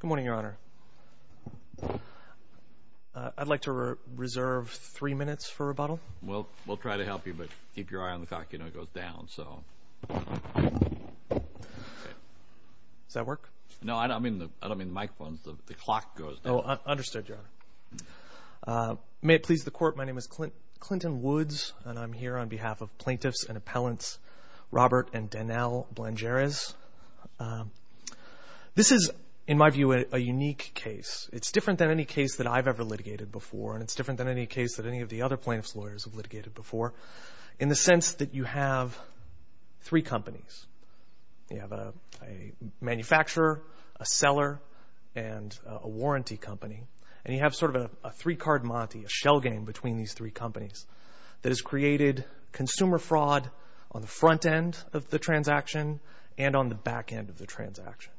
Good morning, Your Honor. I'd like to reserve three minutes for rebuttal. We'll try to help you, but keep your eye on the clock. You know it goes down, so... Does that work? No, I don't mean the microphones. The clock goes down. Oh, understood, Your Honor. May it please the Court, my name is Clinton Woods, and I'm here on behalf of plaintiffs and appellants Robert and Danelle Blangeres. This is, in my view, a unique case. It's different than any case that I've ever litigated before, and it's different than any case that any of the other plaintiffs' lawyers have litigated before, in the sense that you have three companies. You have a manufacturer, a seller, and a warranty company, and you have sort of a three-card monte, a shell game between these three companies that has created consumer fraud on the front end of the transaction and on the back end of the transaction.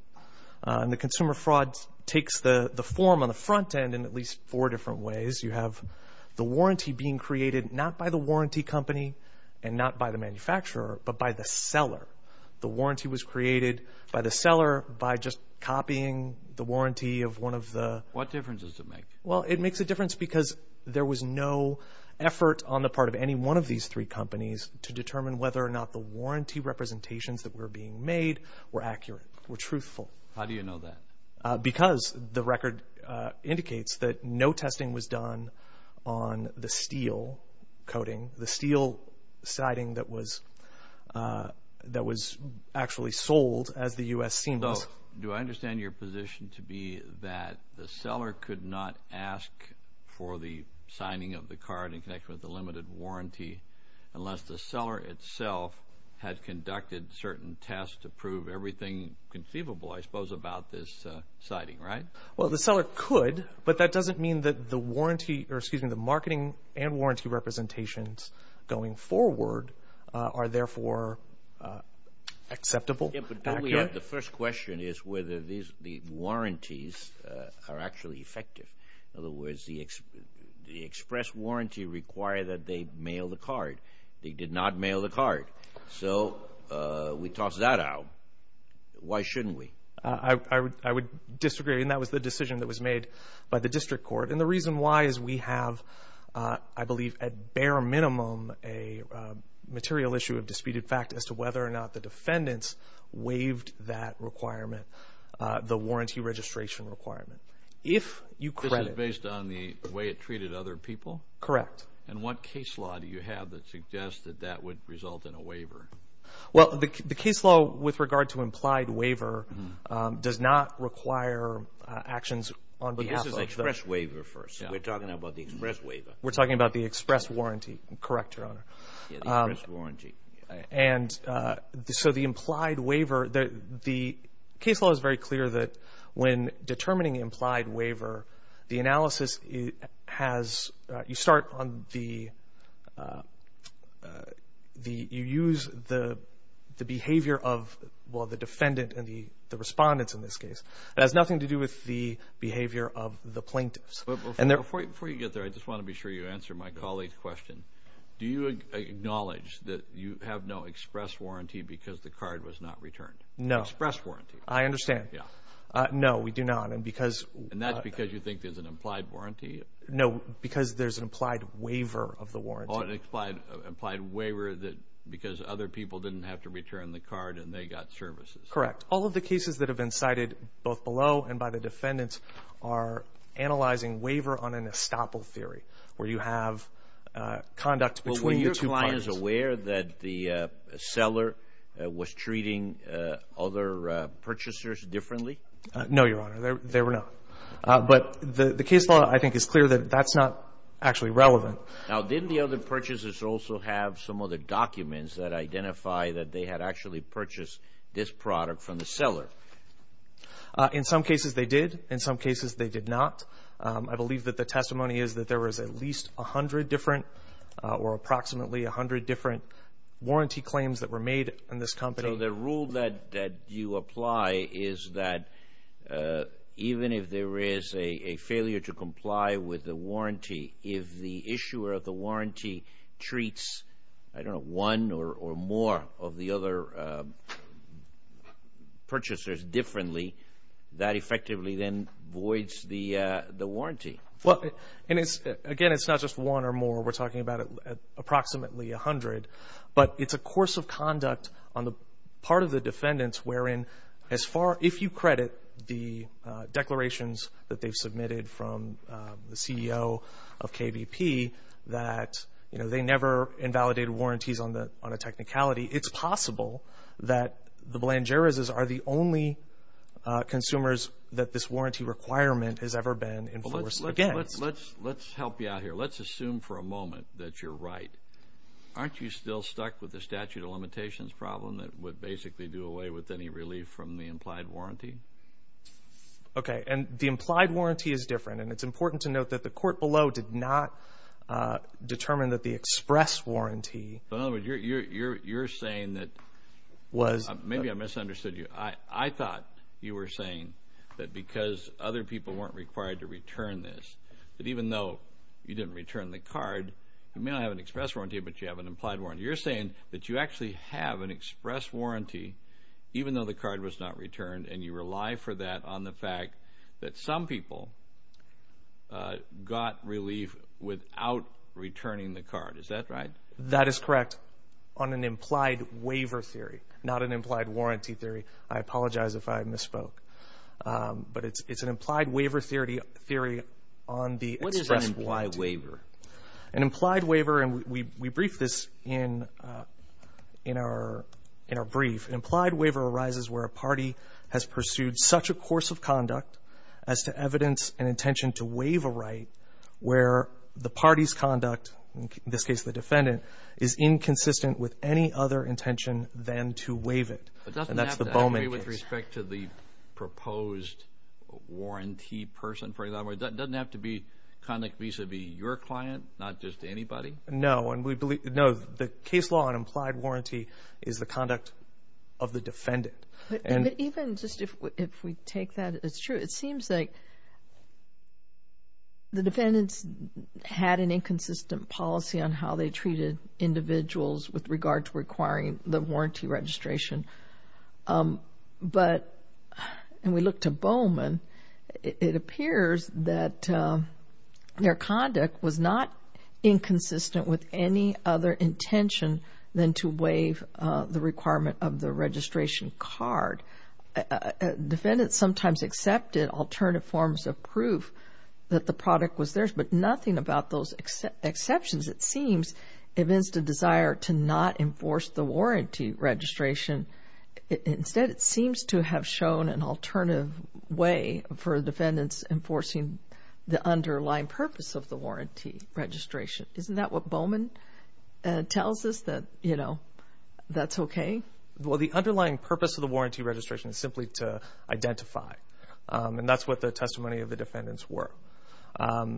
The consumer fraud takes the form on the front end in at least four different ways. You have the warranty being created not by the warranty company and not by the manufacturer, but by the seller. The warranty was created by the seller by just copying the warranty of one of the... What difference does it make? Well, it makes a difference because there was no effort on the part of any one of these three companies to determine whether or not the warranty representations that were being made were accurate, were truthful. How do you know that? Because the record indicates that no testing was done on the steel coating, the steel siding that was actually sold, as the U.S. seems. So do I understand your position to be that the seller could not ask for the signing of the card in connection with the limited warranty unless the seller itself had conducted certain tests to prove everything conceivable, I suppose, about this siding, right? Well, the seller could, but that doesn't mean that the marketing and warranty representations going forward are therefore acceptable. The first question is whether the warranties are actually effective. In other words, the express warranty required that they mail the card. They did not mail the card. So we toss that out. Why shouldn't we? I would disagree, and that was the decision that was made by the district court. And the reason why is we have, I believe, at bare minimum, a material issue of disputed fact as to whether or not the defendants waived that requirement, the warranty registration requirement. This is based on the way it treated other people? Correct. And what case law do you have that suggests that that would result in a waiver? Well, the case law with regard to implied waiver does not require actions on behalf of the… But this is express waiver first. We're talking about the express waiver. We're talking about the express warranty. Correct, Your Honor. Yeah, the express warranty. And so the implied waiver, the case law is very clear that when determining implied waiver, the analysis has, you start on the, you use the behavior of, well, the defendant and the respondents in this case. It has nothing to do with the behavior of the plaintiffs. Before you get there, I just want to be sure you answer my colleague's question. Do you acknowledge that you have no express warranty because the card was not returned? No. Express warranty. I understand. Yeah. No, we do not. And that's because you think there's an implied warranty? No, because there's an implied waiver of the warranty. Oh, an implied waiver because other people didn't have to return the card and they got services. Correct. All of the cases that have been cited, both below and by the defendants, are analyzing waiver on an estoppel theory where you have conduct between the two parties. Well, were your clients aware that the seller was treating other purchasers differently? No, Your Honor. They were not. But the case law, I think, is clear that that's not actually relevant. Now, didn't the other purchasers also have some other documents that identify that they had actually purchased this product from the seller? In some cases, they did. In some cases, they did not. I believe that the testimony is that there was at least 100 different or approximately 100 different warranty claims that were made on this company. So the rule that you apply is that even if there is a failure to comply with the warranty, if the issuer of the warranty treats, I don't know, one or more of the other purchasers differently, that effectively then voids the warranty. Again, it's not just one or more. We're talking about approximately 100. But it's a course of conduct on the part of the defendants wherein, if you credit the declarations that they've submitted from the CEO of KVP that they never invalidated warranties on a technicality, it's possible that the Belangerises are the only consumers that this warranty requirement has ever been enforced against. Let's help you out here. Let's assume for a moment that you're right. Aren't you still stuck with the statute of limitations problem that would basically do away with any relief from the implied warranty? Okay. And the implied warranty is different. And it's important to note that the court below did not determine that the express warranty. In other words, you're saying that maybe I misunderstood you. I thought you were saying that because other people weren't required to return this, that even though you didn't return the card, you may not have an express warranty, but you have an implied warranty. You're saying that you actually have an express warranty even though the card was not returned, and you rely for that on the fact that some people got relief without returning the card. Is that right? That is correct on an implied waiver theory, not an implied warranty theory. I apologize if I misspoke. But it's an implied waiver theory on the express warranty. What is an implied waiver? An implied waiver, and we briefed this in our brief, an implied waiver arises where a party has pursued such a course of conduct as to evidence an intention to waive a right where the party's conduct, in this case the defendant, is inconsistent with any other intention than to waive it, and that's the Bowman case. With respect to the proposed warranty person, for example, it doesn't have to be conduct vis-a-vis your client, not just anybody? No. No, the case law on implied warranty is the conduct of the defendant. Even just if we take that as true, it seems like the defendants had an inconsistent policy on how they treated individuals with regard to requiring the warranty registration. But when we look to Bowman, it appears that their conduct was not inconsistent with any other intention than to waive the requirement of the registration card. Defendants sometimes accepted alternative forms of proof that the product was theirs, but nothing about those exceptions, it seems, evinced a desire to not enforce the warranty registration. Instead, it seems to have shown an alternative way for defendants enforcing the underlying purpose of the warranty registration. Isn't that what Bowman tells us, that, you know, that's okay? Well, the underlying purpose of the warranty registration is simply to identify, and that's what the testimony of the defendants were.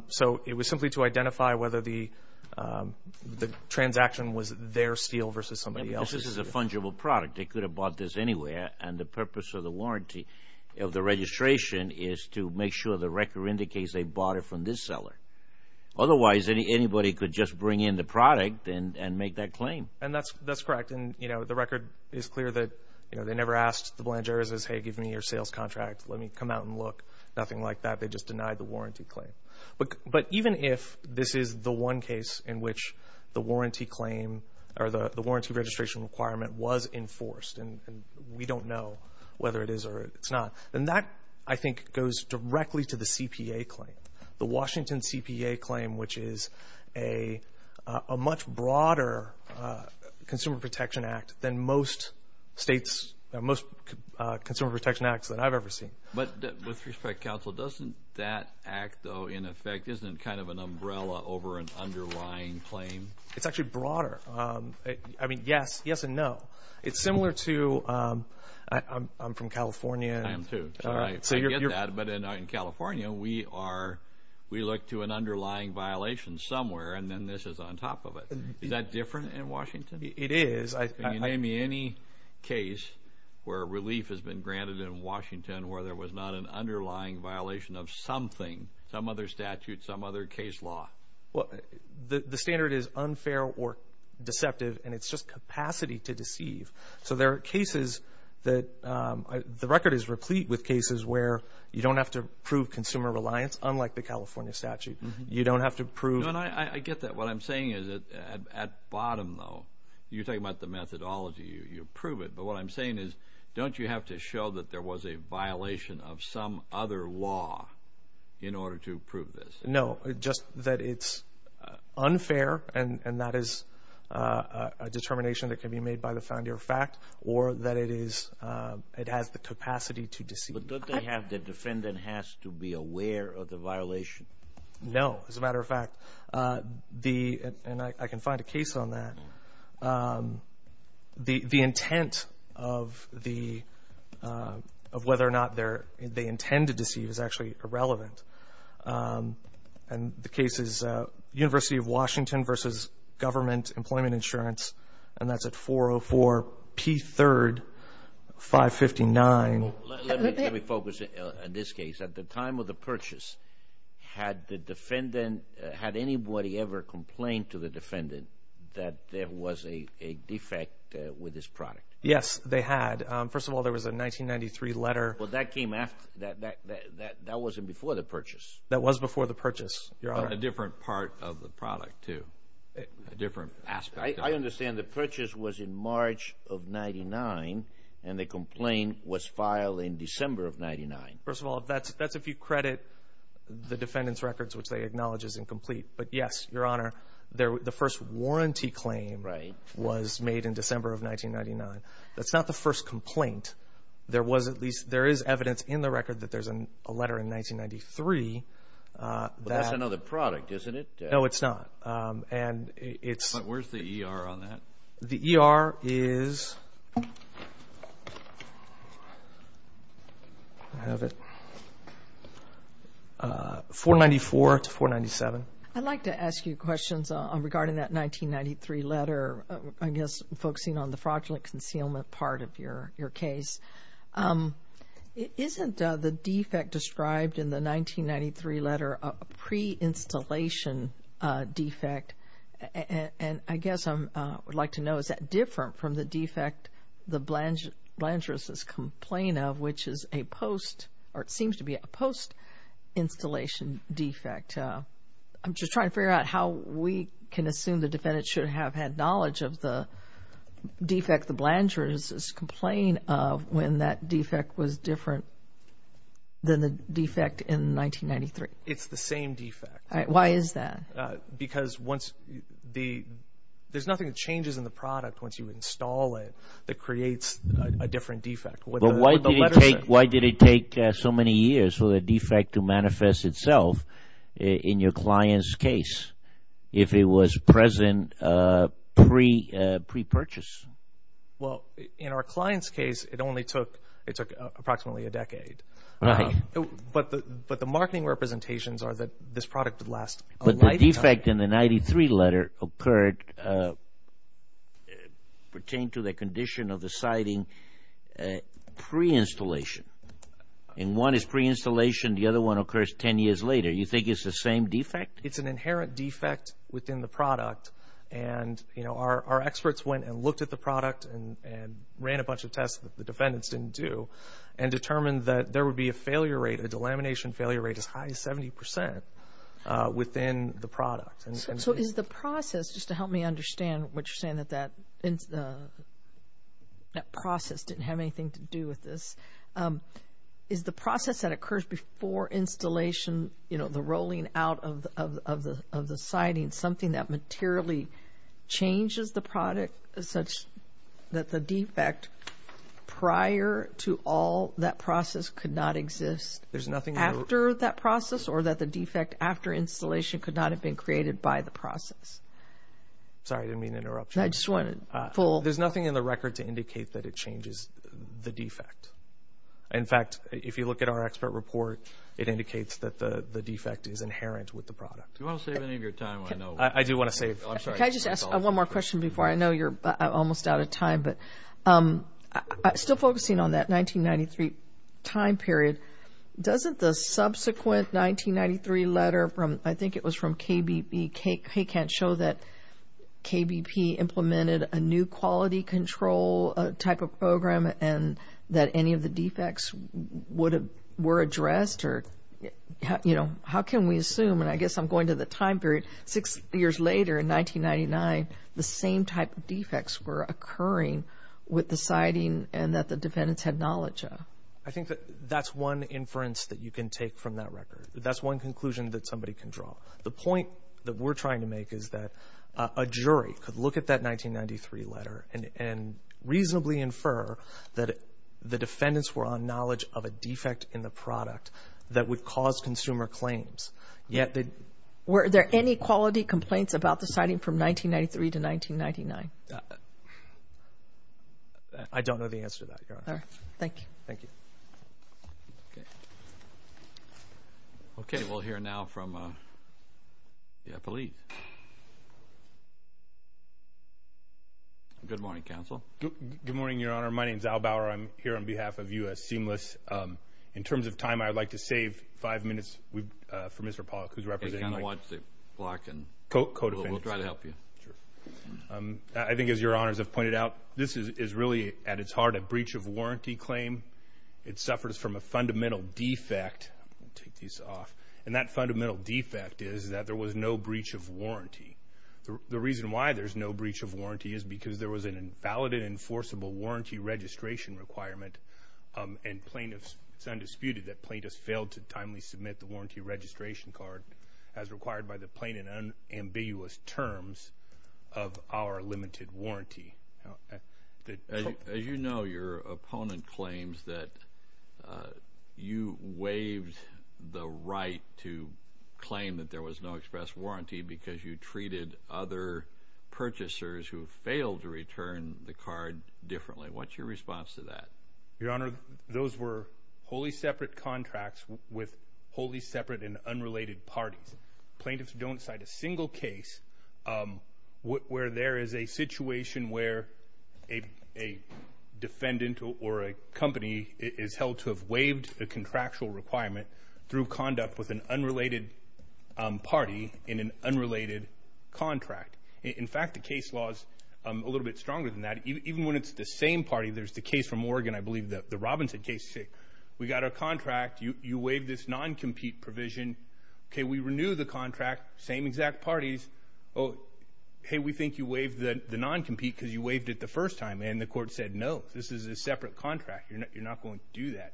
So it was simply to identify whether the transaction was their steal versus somebody else's. This is a fungible product. They could have bought this anywhere, and the purpose of the warranty of the registration is to make sure the record indicates they bought it from this seller. Otherwise, anybody could just bring in the product and make that claim. And that's correct. And, you know, the record is clear that, you know, they never asked the Blangeras, hey, give me your sales contract, let me come out and look, nothing like that. They just denied the warranty claim. But even if this is the one case in which the warranty claim or the warranty registration requirement was enforced, and we don't know whether it is or it's not, then that, I think, goes directly to the CPA claim. The Washington CPA claim, which is a much broader Consumer Protection Act than most states, most Consumer Protection Acts that I've ever seen. But with respect, counsel, doesn't that act, though, in effect, isn't it kind of an umbrella over an underlying claim? It's actually broader. I mean, yes, yes and no. It's similar to, I'm from California. I am too. I get that. But in California, we look to an underlying violation somewhere, and then this is on top of it. Is that different in Washington? It is. Can you name me any case where relief has been granted in Washington where there was not an underlying violation of something, some other statute, some other case law? The standard is unfair or deceptive, and it's just capacity to deceive. So there are cases that the record is replete with cases where you don't have to prove consumer reliance, unlike the California statute. You don't have to prove. I get that. What I'm saying is at bottom, though, you're talking about the methodology. You prove it. But what I'm saying is don't you have to show that there was a violation of some other law in order to prove this? No, just that it's unfair, and that is a determination that can be made by the founder of fact or that it has the capacity to deceive. But don't they have the defendant has to be aware of the violation? No. As a matter of fact, and I can find a case on that, the intent of whether or not they intend to deceive is actually irrelevant. And the case is University of Washington v. Government Employment Insurance, and that's at 404 P3rd 559. Let me focus on this case. At the time of the purchase, had anybody ever complained to the defendant that there was a defect with this product? Yes, they had. First of all, there was a 1993 letter. Well, that came after. That wasn't before the purchase. That was before the purchase. A different part of the product too, a different aspect. I understand the purchase was in March of 1999, and the complaint was filed in December of 1999. First of all, that's if you credit the defendant's records, which they acknowledge is incomplete. But, yes, Your Honor, the first warranty claim was made in December of 1999. That's not the first complaint. There is evidence in the record that there's a letter in 1993. But that's another product, isn't it? No, it's not. But where's the ER on that? The ER is 494 to 497. I'd like to ask you questions regarding that 1993 letter, I guess focusing on the fraudulent concealment part of your case. Isn't the defect described in the 1993 letter a pre-installation defect? And I guess I would like to know, is that different from the defect the Blandris' complaint of, which is a post or it seems to be a post-installation defect? I'm just trying to figure out how we can assume the defendant should have had knowledge of the defect the Blandris' complaint of when that defect was different than the defect in 1993. It's the same defect. Why is that? Because there's nothing that changes in the product once you install it that creates a different defect. Why did it take so many years for the defect to manifest itself in your client's case if it was present pre-purchase? Well, in our client's case, it only took approximately a decade. But the marketing representations are that this product would last a lifetime. But the defect in the 1993 letter pertained to the condition of the siding pre-installation. And one is pre-installation, the other one occurs 10 years later. You think it's the same defect? It's an inherent defect within the product. And our experts went and looked at the product and ran a bunch of tests that the defendants didn't do and determined that there would be a failure rate, a delamination failure rate as high as 70 percent within the product. So is the process, just to help me understand what you're saying, that that process didn't have anything to do with this, is the process that occurs before installation, you know, the rolling out of the siding something that materially changes the product such that the defect prior to all that process could not exist after that process or that the defect after installation could not have been created by the process? Sorry, I didn't mean to interrupt you. I just wanted full. There's nothing in the record to indicate that it changes the defect. In fact, if you look at our expert report, it indicates that the defect is inherent with the product. Do you want to save any of your time? I do want to save. Can I just ask one more question before? I know you're almost out of time, but still focusing on that 1993 time period, doesn't the subsequent 1993 letter from, I think it was from KBP, it can't show that KBP implemented a new quality control type of program and that any of the defects were addressed or, you know, how can we assume, and I guess I'm going to the time period, six years later in 1999, the same type of defects were occurring with the siding and that the defendants had knowledge of? I think that that's one inference that you can take from that record. That's one conclusion that somebody can draw. The point that we're trying to make is that a jury could look at that 1993 letter and reasonably infer that the defendants were on knowledge of a defect in the product that would cause consumer claims. Were there any quality complaints about the siding from 1993 to 1999? I don't know the answer to that, Your Honor. Thank you. Thank you. Okay. Okay, we'll hear now from the police. Good morning, counsel. Good morning, Your Honor. My name is Al Bauer. I'm here on behalf of U.S. Seamless. In terms of time, I'd like to save five minutes for Mr. Pollack, who's representing me. Watch the clock and we'll try to help you. I think, as Your Honors have pointed out, this is really, at its heart, a breach of warranty claim. It suffers from a fundamental defect. I'll take these off. And that fundamental defect is that there was no breach of warranty. The reason why there's no breach of warranty is because there was an invalid and enforceable warranty registration requirement, and it's undisputed that plaintiffs failed to timely submit the warranty registration card as required by the plain and unambiguous terms of our limited warranty. As you know, your opponent claims that you waived the right to claim that there was no express warranty because you treated other purchasers who failed to return the card differently. What's your response to that? Your Honor, those were wholly separate contracts with wholly separate and unrelated parties. Plaintiffs don't cite a single case where there is a situation where a defendant or a company is held to have waived a contractual requirement through conduct with an unrelated party in an unrelated contract. In fact, the case law is a little bit stronger than that. Even when it's the same party, there's the case from Oregon, I believe, the Robinson case. We got our contract. You waived this non-compete provision. Okay, we renew the contract, same exact parties. Oh, hey, we think you waived the non-compete because you waived it the first time, and the court said, no, this is a separate contract. You're not going to do that.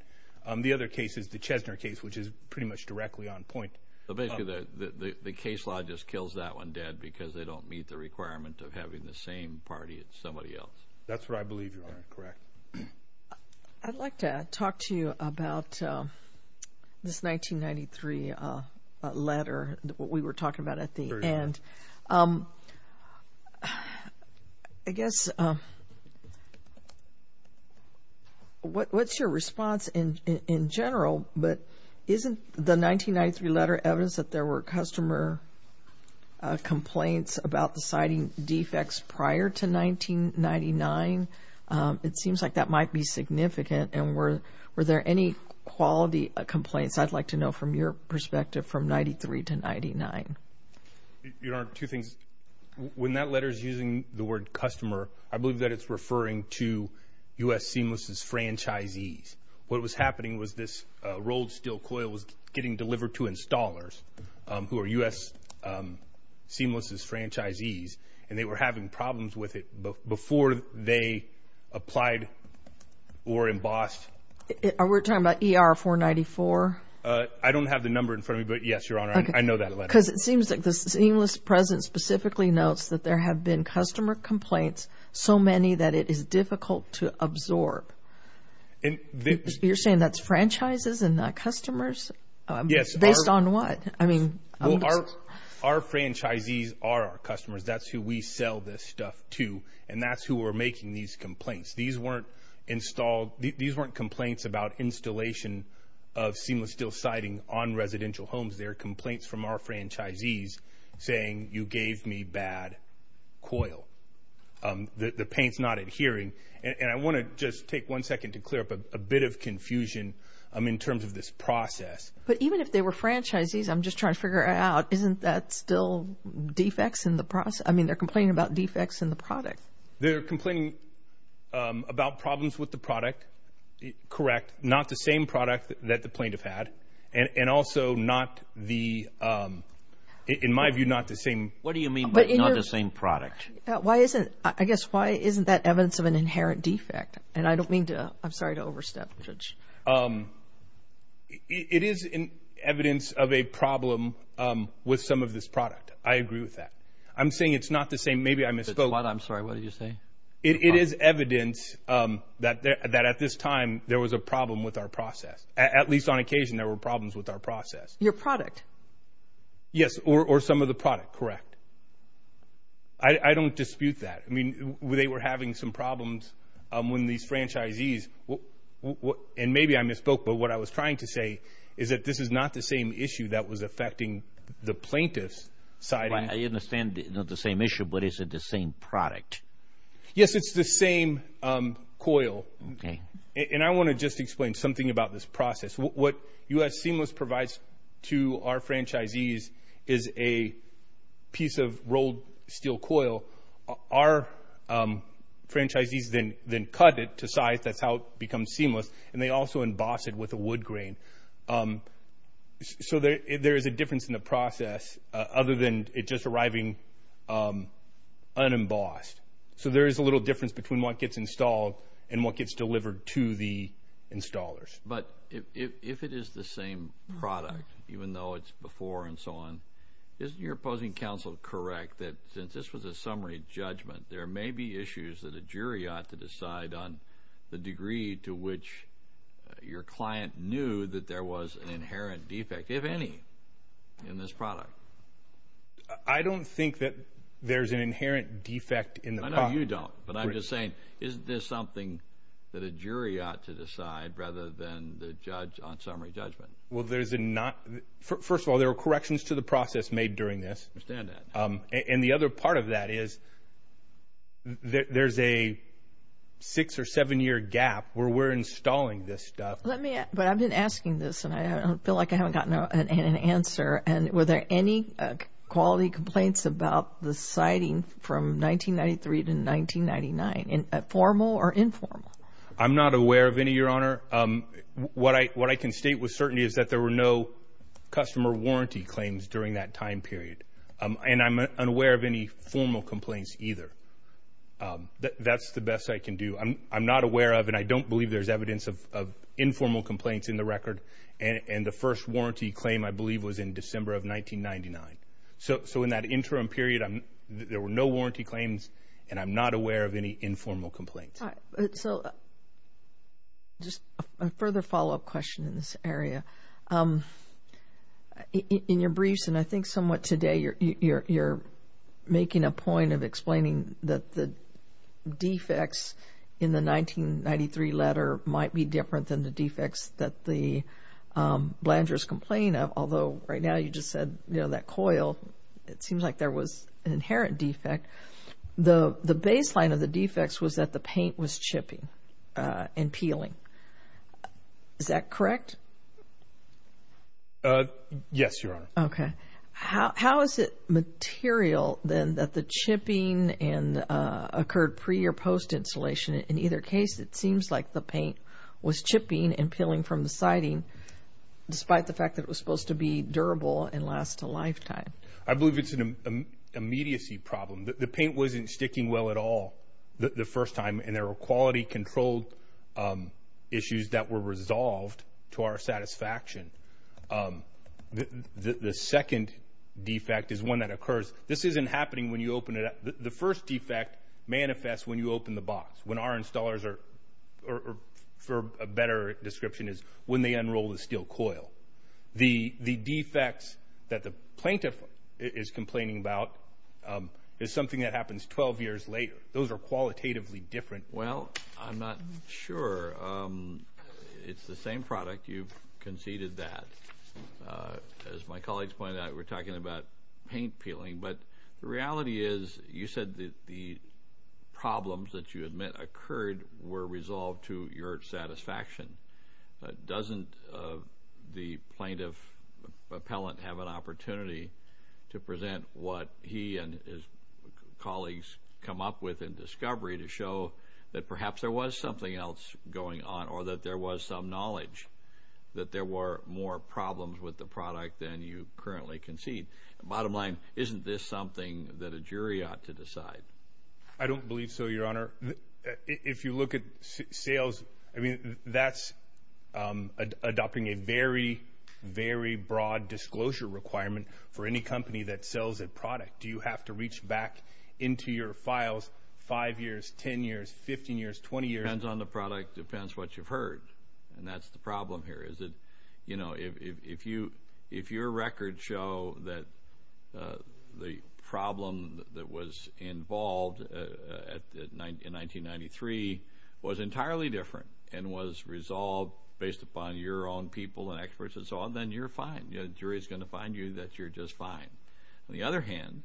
The other case is the Chesner case, which is pretty much directly on point. So basically the case law just kills that one dead because they don't meet the requirement of having the same party as somebody else. That's what I believe, Your Honor. Correct. I'd like to talk to you about this 1993 letter that we were talking about at the end. I guess what's your response in general? But isn't the 1993 letter evidence that there were customer complaints about the citing defects prior to 1999? It seems like that might be significant, and were there any quality complaints I'd like to know from your perspective from 1993 to 1999? Your Honor, two things. When that letter is using the word customer, I believe that it's referring to U.S. Seamless' franchisees. What was happening was this rolled steel coil was getting delivered to installers, who are U.S. Seamless' franchisees, and they were having problems with it before they applied or embossed. Are we talking about ER-494? I don't have the number in front of me, but yes, Your Honor, I know that letter. Because it seems like the Seamless' president specifically notes that there have been customer complaints, so many that it is difficult to absorb. You're saying that's franchises and not customers? Yes. Based on what? Our franchisees are our customers. That's who we sell this stuff to, and that's who are making these complaints. These weren't complaints about installation of seamless steel siding on residential homes. They're complaints from our franchisees saying, you gave me bad coil. The paint's not adhering. And I want to just take one second to clear up a bit of confusion in terms of this process. But even if they were franchisees, I'm just trying to figure out, isn't that still defects in the process? I mean, they're complaining about defects in the product. They're complaining about problems with the product, correct, not the same product that the plaintiff had, and also not the, in my view, not the same. What do you mean by not the same product? Why isn't, I guess, why isn't that evidence of an inherent defect? It is evidence of a problem with some of this product. I agree with that. I'm saying it's not the same. Maybe I misspoke. I'm sorry. What did you say? It is evidence that at this time there was a problem with our process. At least on occasion there were problems with our process. Your product? Yes, or some of the product, correct. I don't dispute that. I mean, they were having some problems when these franchisees, and maybe I misspoke, but what I was trying to say is that this is not the same issue that was affecting the plaintiff's side. I understand it's not the same issue, but is it the same product? Yes, it's the same coil. And I want to just explain something about this process. What U.S. Seamless provides to our franchisees is a piece of rolled steel coil. Our franchisees then cut it to size. That's how it becomes seamless, and they also emboss it with a wood grain. So there is a difference in the process other than it just arriving unembossed. So there is a little difference between what gets installed and what gets delivered to the installers. But if it is the same product, even though it's before and so on, isn't your opposing counsel correct that since this was a summary judgment, there may be issues that a jury ought to decide on the degree to which your client knew that there was an inherent defect, if any, in this product? I don't think that there's an inherent defect in the product. No, you don't. But I'm just saying, isn't this something that a jury ought to decide rather than the judge on summary judgment? Well, first of all, there were corrections to the process made during this. I understand that. And the other part of that is there's a six- or seven-year gap where we're installing this stuff. But I've been asking this, and I feel like I haven't gotten an answer. Were there any quality complaints about the siting from 1993 to 1999, formal or informal? I'm not aware of any, Your Honor. What I can state with certainty is that there were no customer warranty claims during that time period. And I'm unaware of any formal complaints either. That's the best I can do. I'm not aware of, and I don't believe there's evidence of, informal complaints in the record. And the first warranty claim, I believe, was in December of 1999. So in that interim period, there were no warranty claims, and I'm not aware of any informal complaints. All right. So just a further follow-up question in this area. In your briefs, and I think somewhat today, you're making a point of explaining that the defects in the 1993 letter might be different than the defects that the Blanders complain of, although right now you just said, you know, that coil, it seems like there was an inherent defect. The baseline of the defects was that the paint was chipping and peeling. Is that correct? Yes, Your Honor. Okay. How is it material, then, that the chipping occurred pre- or post-installation? In either case, it seems like the paint was chipping and peeling from the siding, despite the fact that it was supposed to be durable and last a lifetime. I believe it's an immediacy problem. The paint wasn't sticking well at all the first time, and there were quality-controlled issues that were resolved to our satisfaction. The second defect is one that occurs. This isn't happening when you open it up. The first defect manifests when you open the box. When our installers are, for a better description, is when they unroll the steel coil. The defects that the plaintiff is complaining about is something that happens 12 years later. Those are qualitatively different. Well, I'm not sure. It's the same product. You've conceded that. As my colleagues pointed out, we're talking about paint peeling. But the reality is you said that the problems that you admit occurred were resolved to your satisfaction. Doesn't the plaintiff appellant have an opportunity to present what he and his colleagues come up with in discovery to show that perhaps there was something else going on or that there was some knowledge that there were more problems with the product than you currently concede? Bottom line, isn't this something that a jury ought to decide? I don't believe so, Your Honor. If you look at sales, I mean, that's adopting a very, very broad disclosure requirement for any company that sells a product. Do you have to reach back into your files five years, 10 years, 15 years, 20 years? It depends on the product. It depends what you've heard, and that's the problem here. If your records show that the problem that was involved in 1993 was entirely different and was resolved based upon your own people and experts and so on, then you're fine. The jury is going to find you that you're just fine. On the other hand,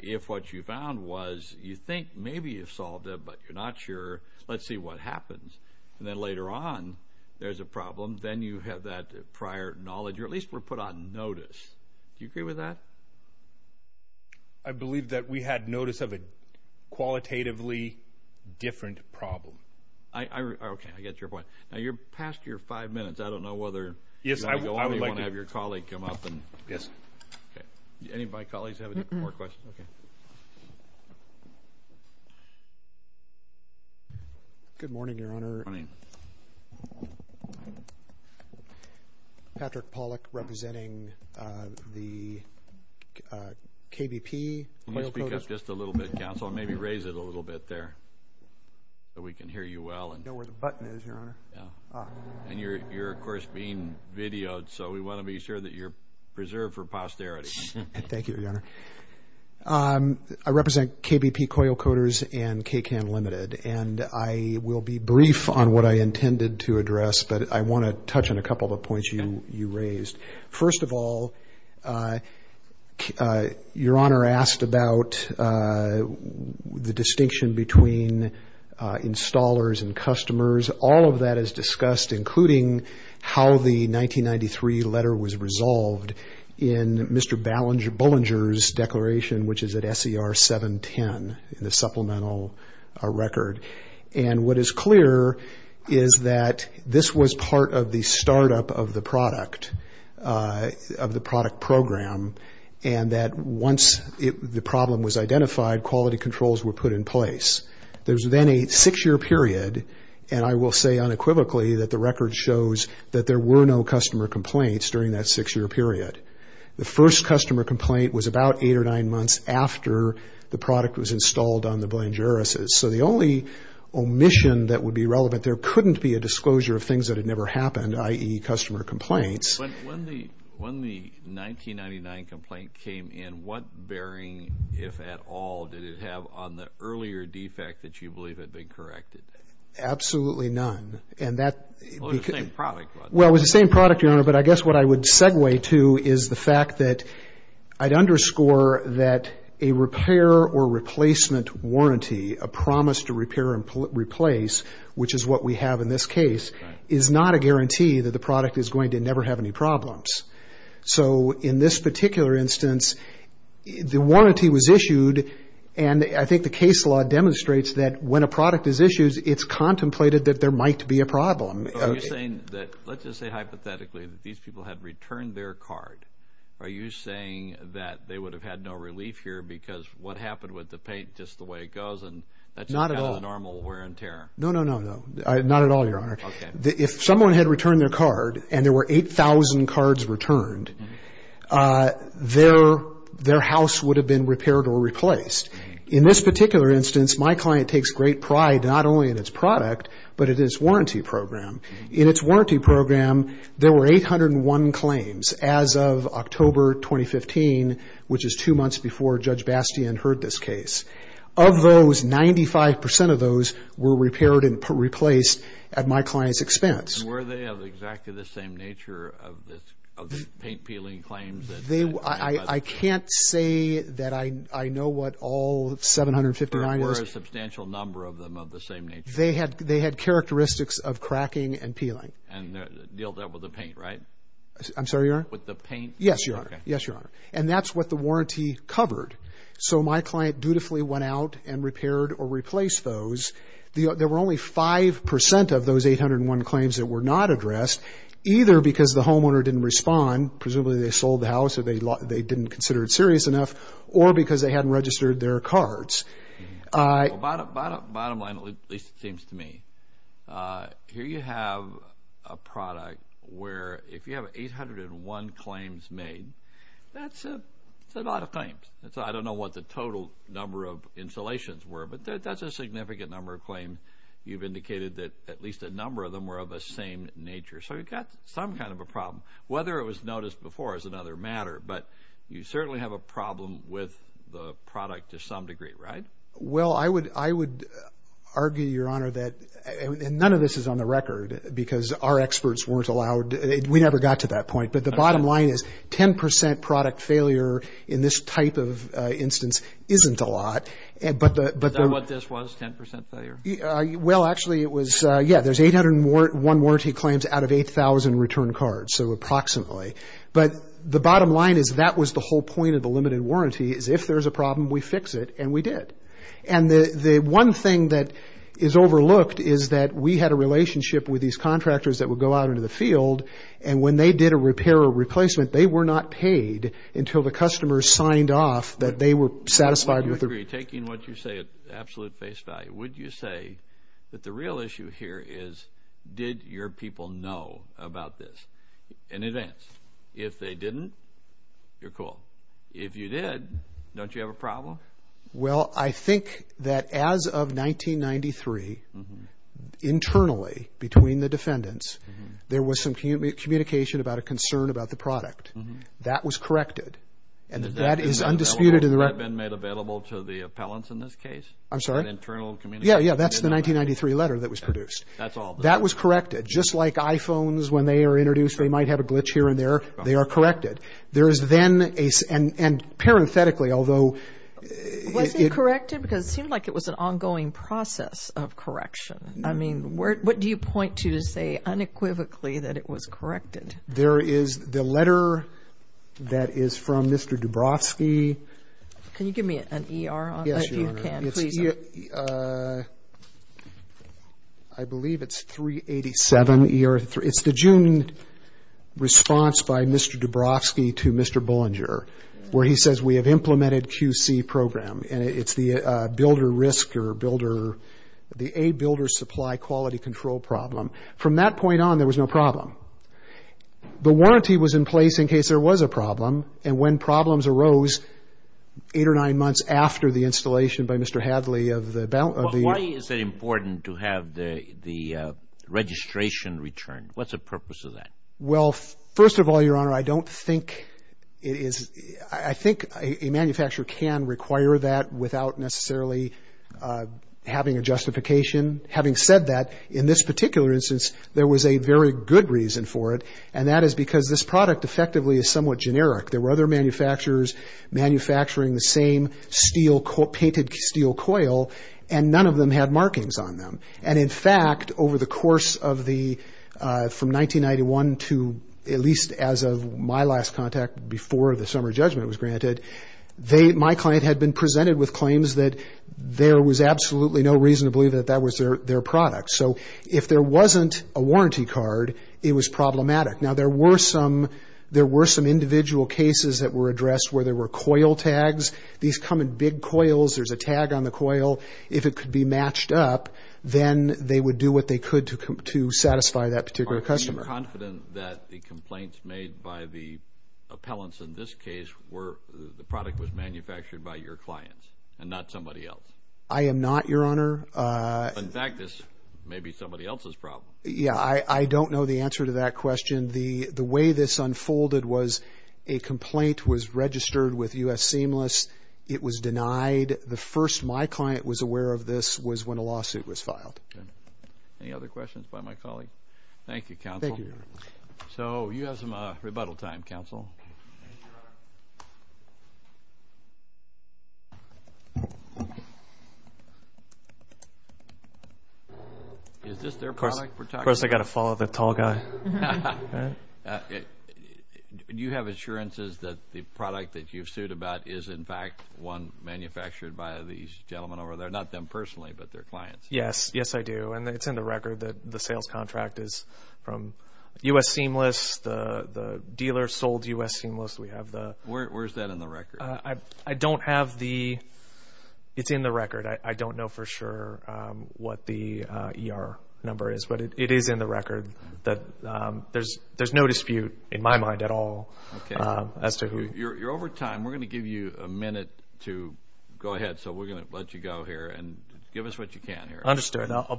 if what you found was you think maybe you've solved it, but you're not sure, let's see what happens. And then later on, there's a problem. Then you have that prior knowledge, or at least we're put on notice. Do you agree with that? I believe that we had notice of a qualitatively different problem. Okay, I get your point. Now, you're past your five minutes. I don't know whether you want to go on or you want to have your colleague come up. Yes. Okay. Any of my colleagues have more questions? Okay. Good morning, Your Honor. Good morning. Patrick Pollack representing the KBP. Let me speak up just a little bit, counsel, and maybe raise it a little bit there so we can hear you well. You know where the button is, Your Honor? Yeah. Ah. And you're, of course, being videoed, so we want to be sure that you're preserved for posterity. Thank you, Your Honor. I represent KBP Coil Coaters and KCAN Limited, and I will be brief on what I intended to address, but I want to touch on a couple of the points you raised. First of all, Your Honor asked about the distinction between installers and customers. All of that is discussed, including how the 1993 letter was resolved in Mr. Bullinger's declaration, which is at SER 710, the supplemental record. And what is clear is that this was part of the startup of the product, of the product program, and that once the problem was identified, quality controls were put in place. There was then a six-year period, and I will say unequivocally that the record shows that there were no customer complaints during that six-year period. The first customer complaint was about eight or nine months after the product was installed on the Bullingerises. So the only omission that would be relevant, there couldn't be a disclosure of things that had never happened, i.e., customer complaints. When the 1999 complaint came in, what bearing, if at all, did it have on the earlier defect that you believe had been corrected? Absolutely none. Well, it was the same product. Well, it was the same product, Your Honor, but I guess what I would segue to is the fact that I'd underscore that a repair or replacement warranty, a promise to repair and replace, which is what we have in this case, is not a guarantee that the product is going to never have any problems. So in this particular instance, the warranty was issued, and I think the case law demonstrates that when a product is issued, it's contemplated that there might be a problem. Are you saying that, let's just say hypothetically, that these people had returned their card, are you saying that they would have had no relief here because what happened with the paint, just the way it goes, and that's not a normal wear and tear? No, no, no, no, not at all, Your Honor. Okay. If someone had returned their card and there were 8,000 cards returned, their house would have been repaired or replaced. In this particular instance, my client takes great pride not only in its product, but in its warranty program. In its warranty program, there were 801 claims as of October 2015, which is two months before Judge Bastian heard this case. Of those, 95% of those were repaired and replaced at my client's expense. And were they of exactly the same nature of the paint peeling claims? I can't say that I know what all 759 is. There were a substantial number of them of the same nature. They had characteristics of cracking and peeling. And they're dealt with the paint, right? With the paint? Yes, Your Honor. Okay. Yes, Your Honor. And that's what the warranty covered. So my client dutifully went out and repaired or replaced those. There were only 5% of those 801 claims that were not addressed, either because the homeowner didn't respond, presumably they sold the house or they didn't consider it serious enough, or because they hadn't registered their cards. Bottom line, at least it seems to me, here you have a product where if you have 801 claims made, that's a lot of claims. I don't know what the total number of installations were, but that's a significant number of claims. You've indicated that at least a number of them were of the same nature. So you've got some kind of a problem. Whether it was noticed before is another matter, but you certainly have a problem with the product to some degree, right? Well, I would argue, Your Honor, that none of this is on the record because our experts weren't allowed. We never got to that point. But the bottom line is 10% product failure in this type of instance isn't a lot. Is that what this was, 10% failure? Well, actually, it was, yeah, there's 801 warranty claims out of 8,000 return cards, so approximately. But the bottom line is that was the whole point of the limited warranty, is if there's a problem, we fix it, and we did. And the one thing that is overlooked is that we had a relationship with these contractors that would go out into the field, and when they did a repair or replacement, they were not paid until the customers signed off that they were satisfied. I don't agree. Taking what you say at absolute face value, would you say that the real issue here is did your people know about this in advance? If they didn't, you're cool. If you did, don't you have a problem? Well, I think that as of 1993, internally between the defendants, there was some communication about a concern about the product. That was corrected, and that is undisputed in the record. Has that been made available to the appellants in this case? I'm sorry? An internal communication? Yeah, yeah, that's the 1993 letter that was produced. That's all. That was corrected. Just like iPhones, when they are introduced, they might have a glitch here and there, they are corrected. There is then a – and parenthetically, although – Was it corrected? Because it seemed like it was an ongoing process of correction. I mean, what do you point to to say unequivocally that it was corrected? There is the letter that is from Mr. Dubrovsky. Can you give me an ER on that? Yes, Your Honor. If you can, please. I believe it's 387 ER. It's the June response by Mr. Dubrovsky to Mr. Bullinger where he says we have implemented QC program, and it's the builder risk or builder – the A builder supply quality control problem. From that point on, there was no problem. And when problems arose, eight or nine months after the installation by Mr. Hadley of the – Why is it important to have the registration returned? What's the purpose of that? Well, first of all, Your Honor, I don't think it is – I think a manufacturer can require that without necessarily having a justification. Having said that, in this particular instance, there was a very good reason for it, and that is because this product effectively is somewhat generic. There were other manufacturers manufacturing the same steel – painted steel coil, and none of them had markings on them. And in fact, over the course of the – from 1991 to at least as of my last contact before the summer judgment was granted, my client had been presented with claims that there was absolutely no reason to believe that that was their product. So if there wasn't a warranty card, it was problematic. Now, there were some individual cases that were addressed where there were coil tags. These come in big coils. There's a tag on the coil. If it could be matched up, then they would do what they could to satisfy that particular customer. Are you confident that the complaints made by the appellants in this case were – the product was manufactured by your clients and not somebody else? I am not, Your Honor. In fact, this may be somebody else's problem. Yeah, I don't know the answer to that question. The way this unfolded was a complaint was registered with U.S. Seamless. It was denied. The first my client was aware of this was when a lawsuit was filed. Any other questions by my colleague? Thank you, Counsel. Thank you, Your Honor. So you have some rebuttal time, Counsel. Thank you, Your Honor. Is this their product we're talking about? Of course, I've got to follow the tall guy. Do you have assurances that the product that you've sued about is, in fact, one manufactured by these gentlemen over there, not them personally, but their clients? Yes, yes, I do. And it's in the record that the sales contract is from U.S. Seamless. The dealer sold U.S. Seamless. Where is that in the record? I don't have the – it's in the record. I don't know for sure what the ER number is, but it is in the record. There's no dispute in my mind at all as to who – You're over time. We're going to give you a minute to go ahead. So we're going to let you go here and give us what you can here. Understood. I'll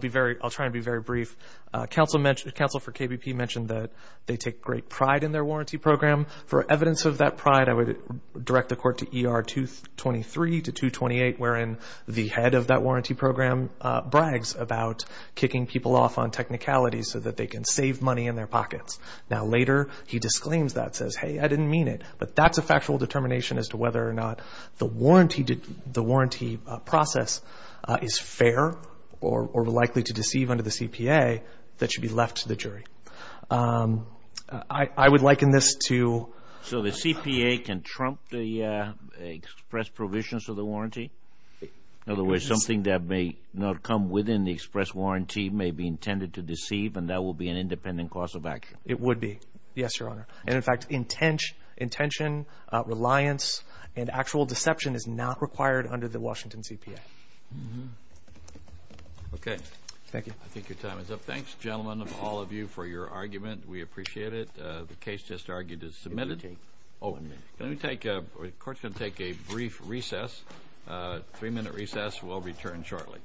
try to be very brief. Counsel for KBP mentioned that they take great pride in their warranty program. For evidence of that pride, I would direct the court to ER 223 to 228, wherein the head of that warranty program brags about kicking people off on technicalities so that they can save money in their pockets. Now, later he disclaims that, says, hey, I didn't mean it, but that's a factual determination as to whether or not the warranty process is fair or likely to deceive under the CPA that should be left to the jury. I would liken this to – So the CPA can trump the express provisions of the warranty? In other words, something that may not come within the express warranty may be intended to deceive, and that will be an independent cause of action. It would be, yes, Your Honor. And, in fact, intention, reliance, and actual deception is not required under the Washington CPA. Okay. Thank you. I think your time is up. Thanks, gentlemen, all of you, for your argument. We appreciate it. The case just argued is submitted. It did take one minute. The court's going to take a brief recess. Three-minute recess. We'll return shortly.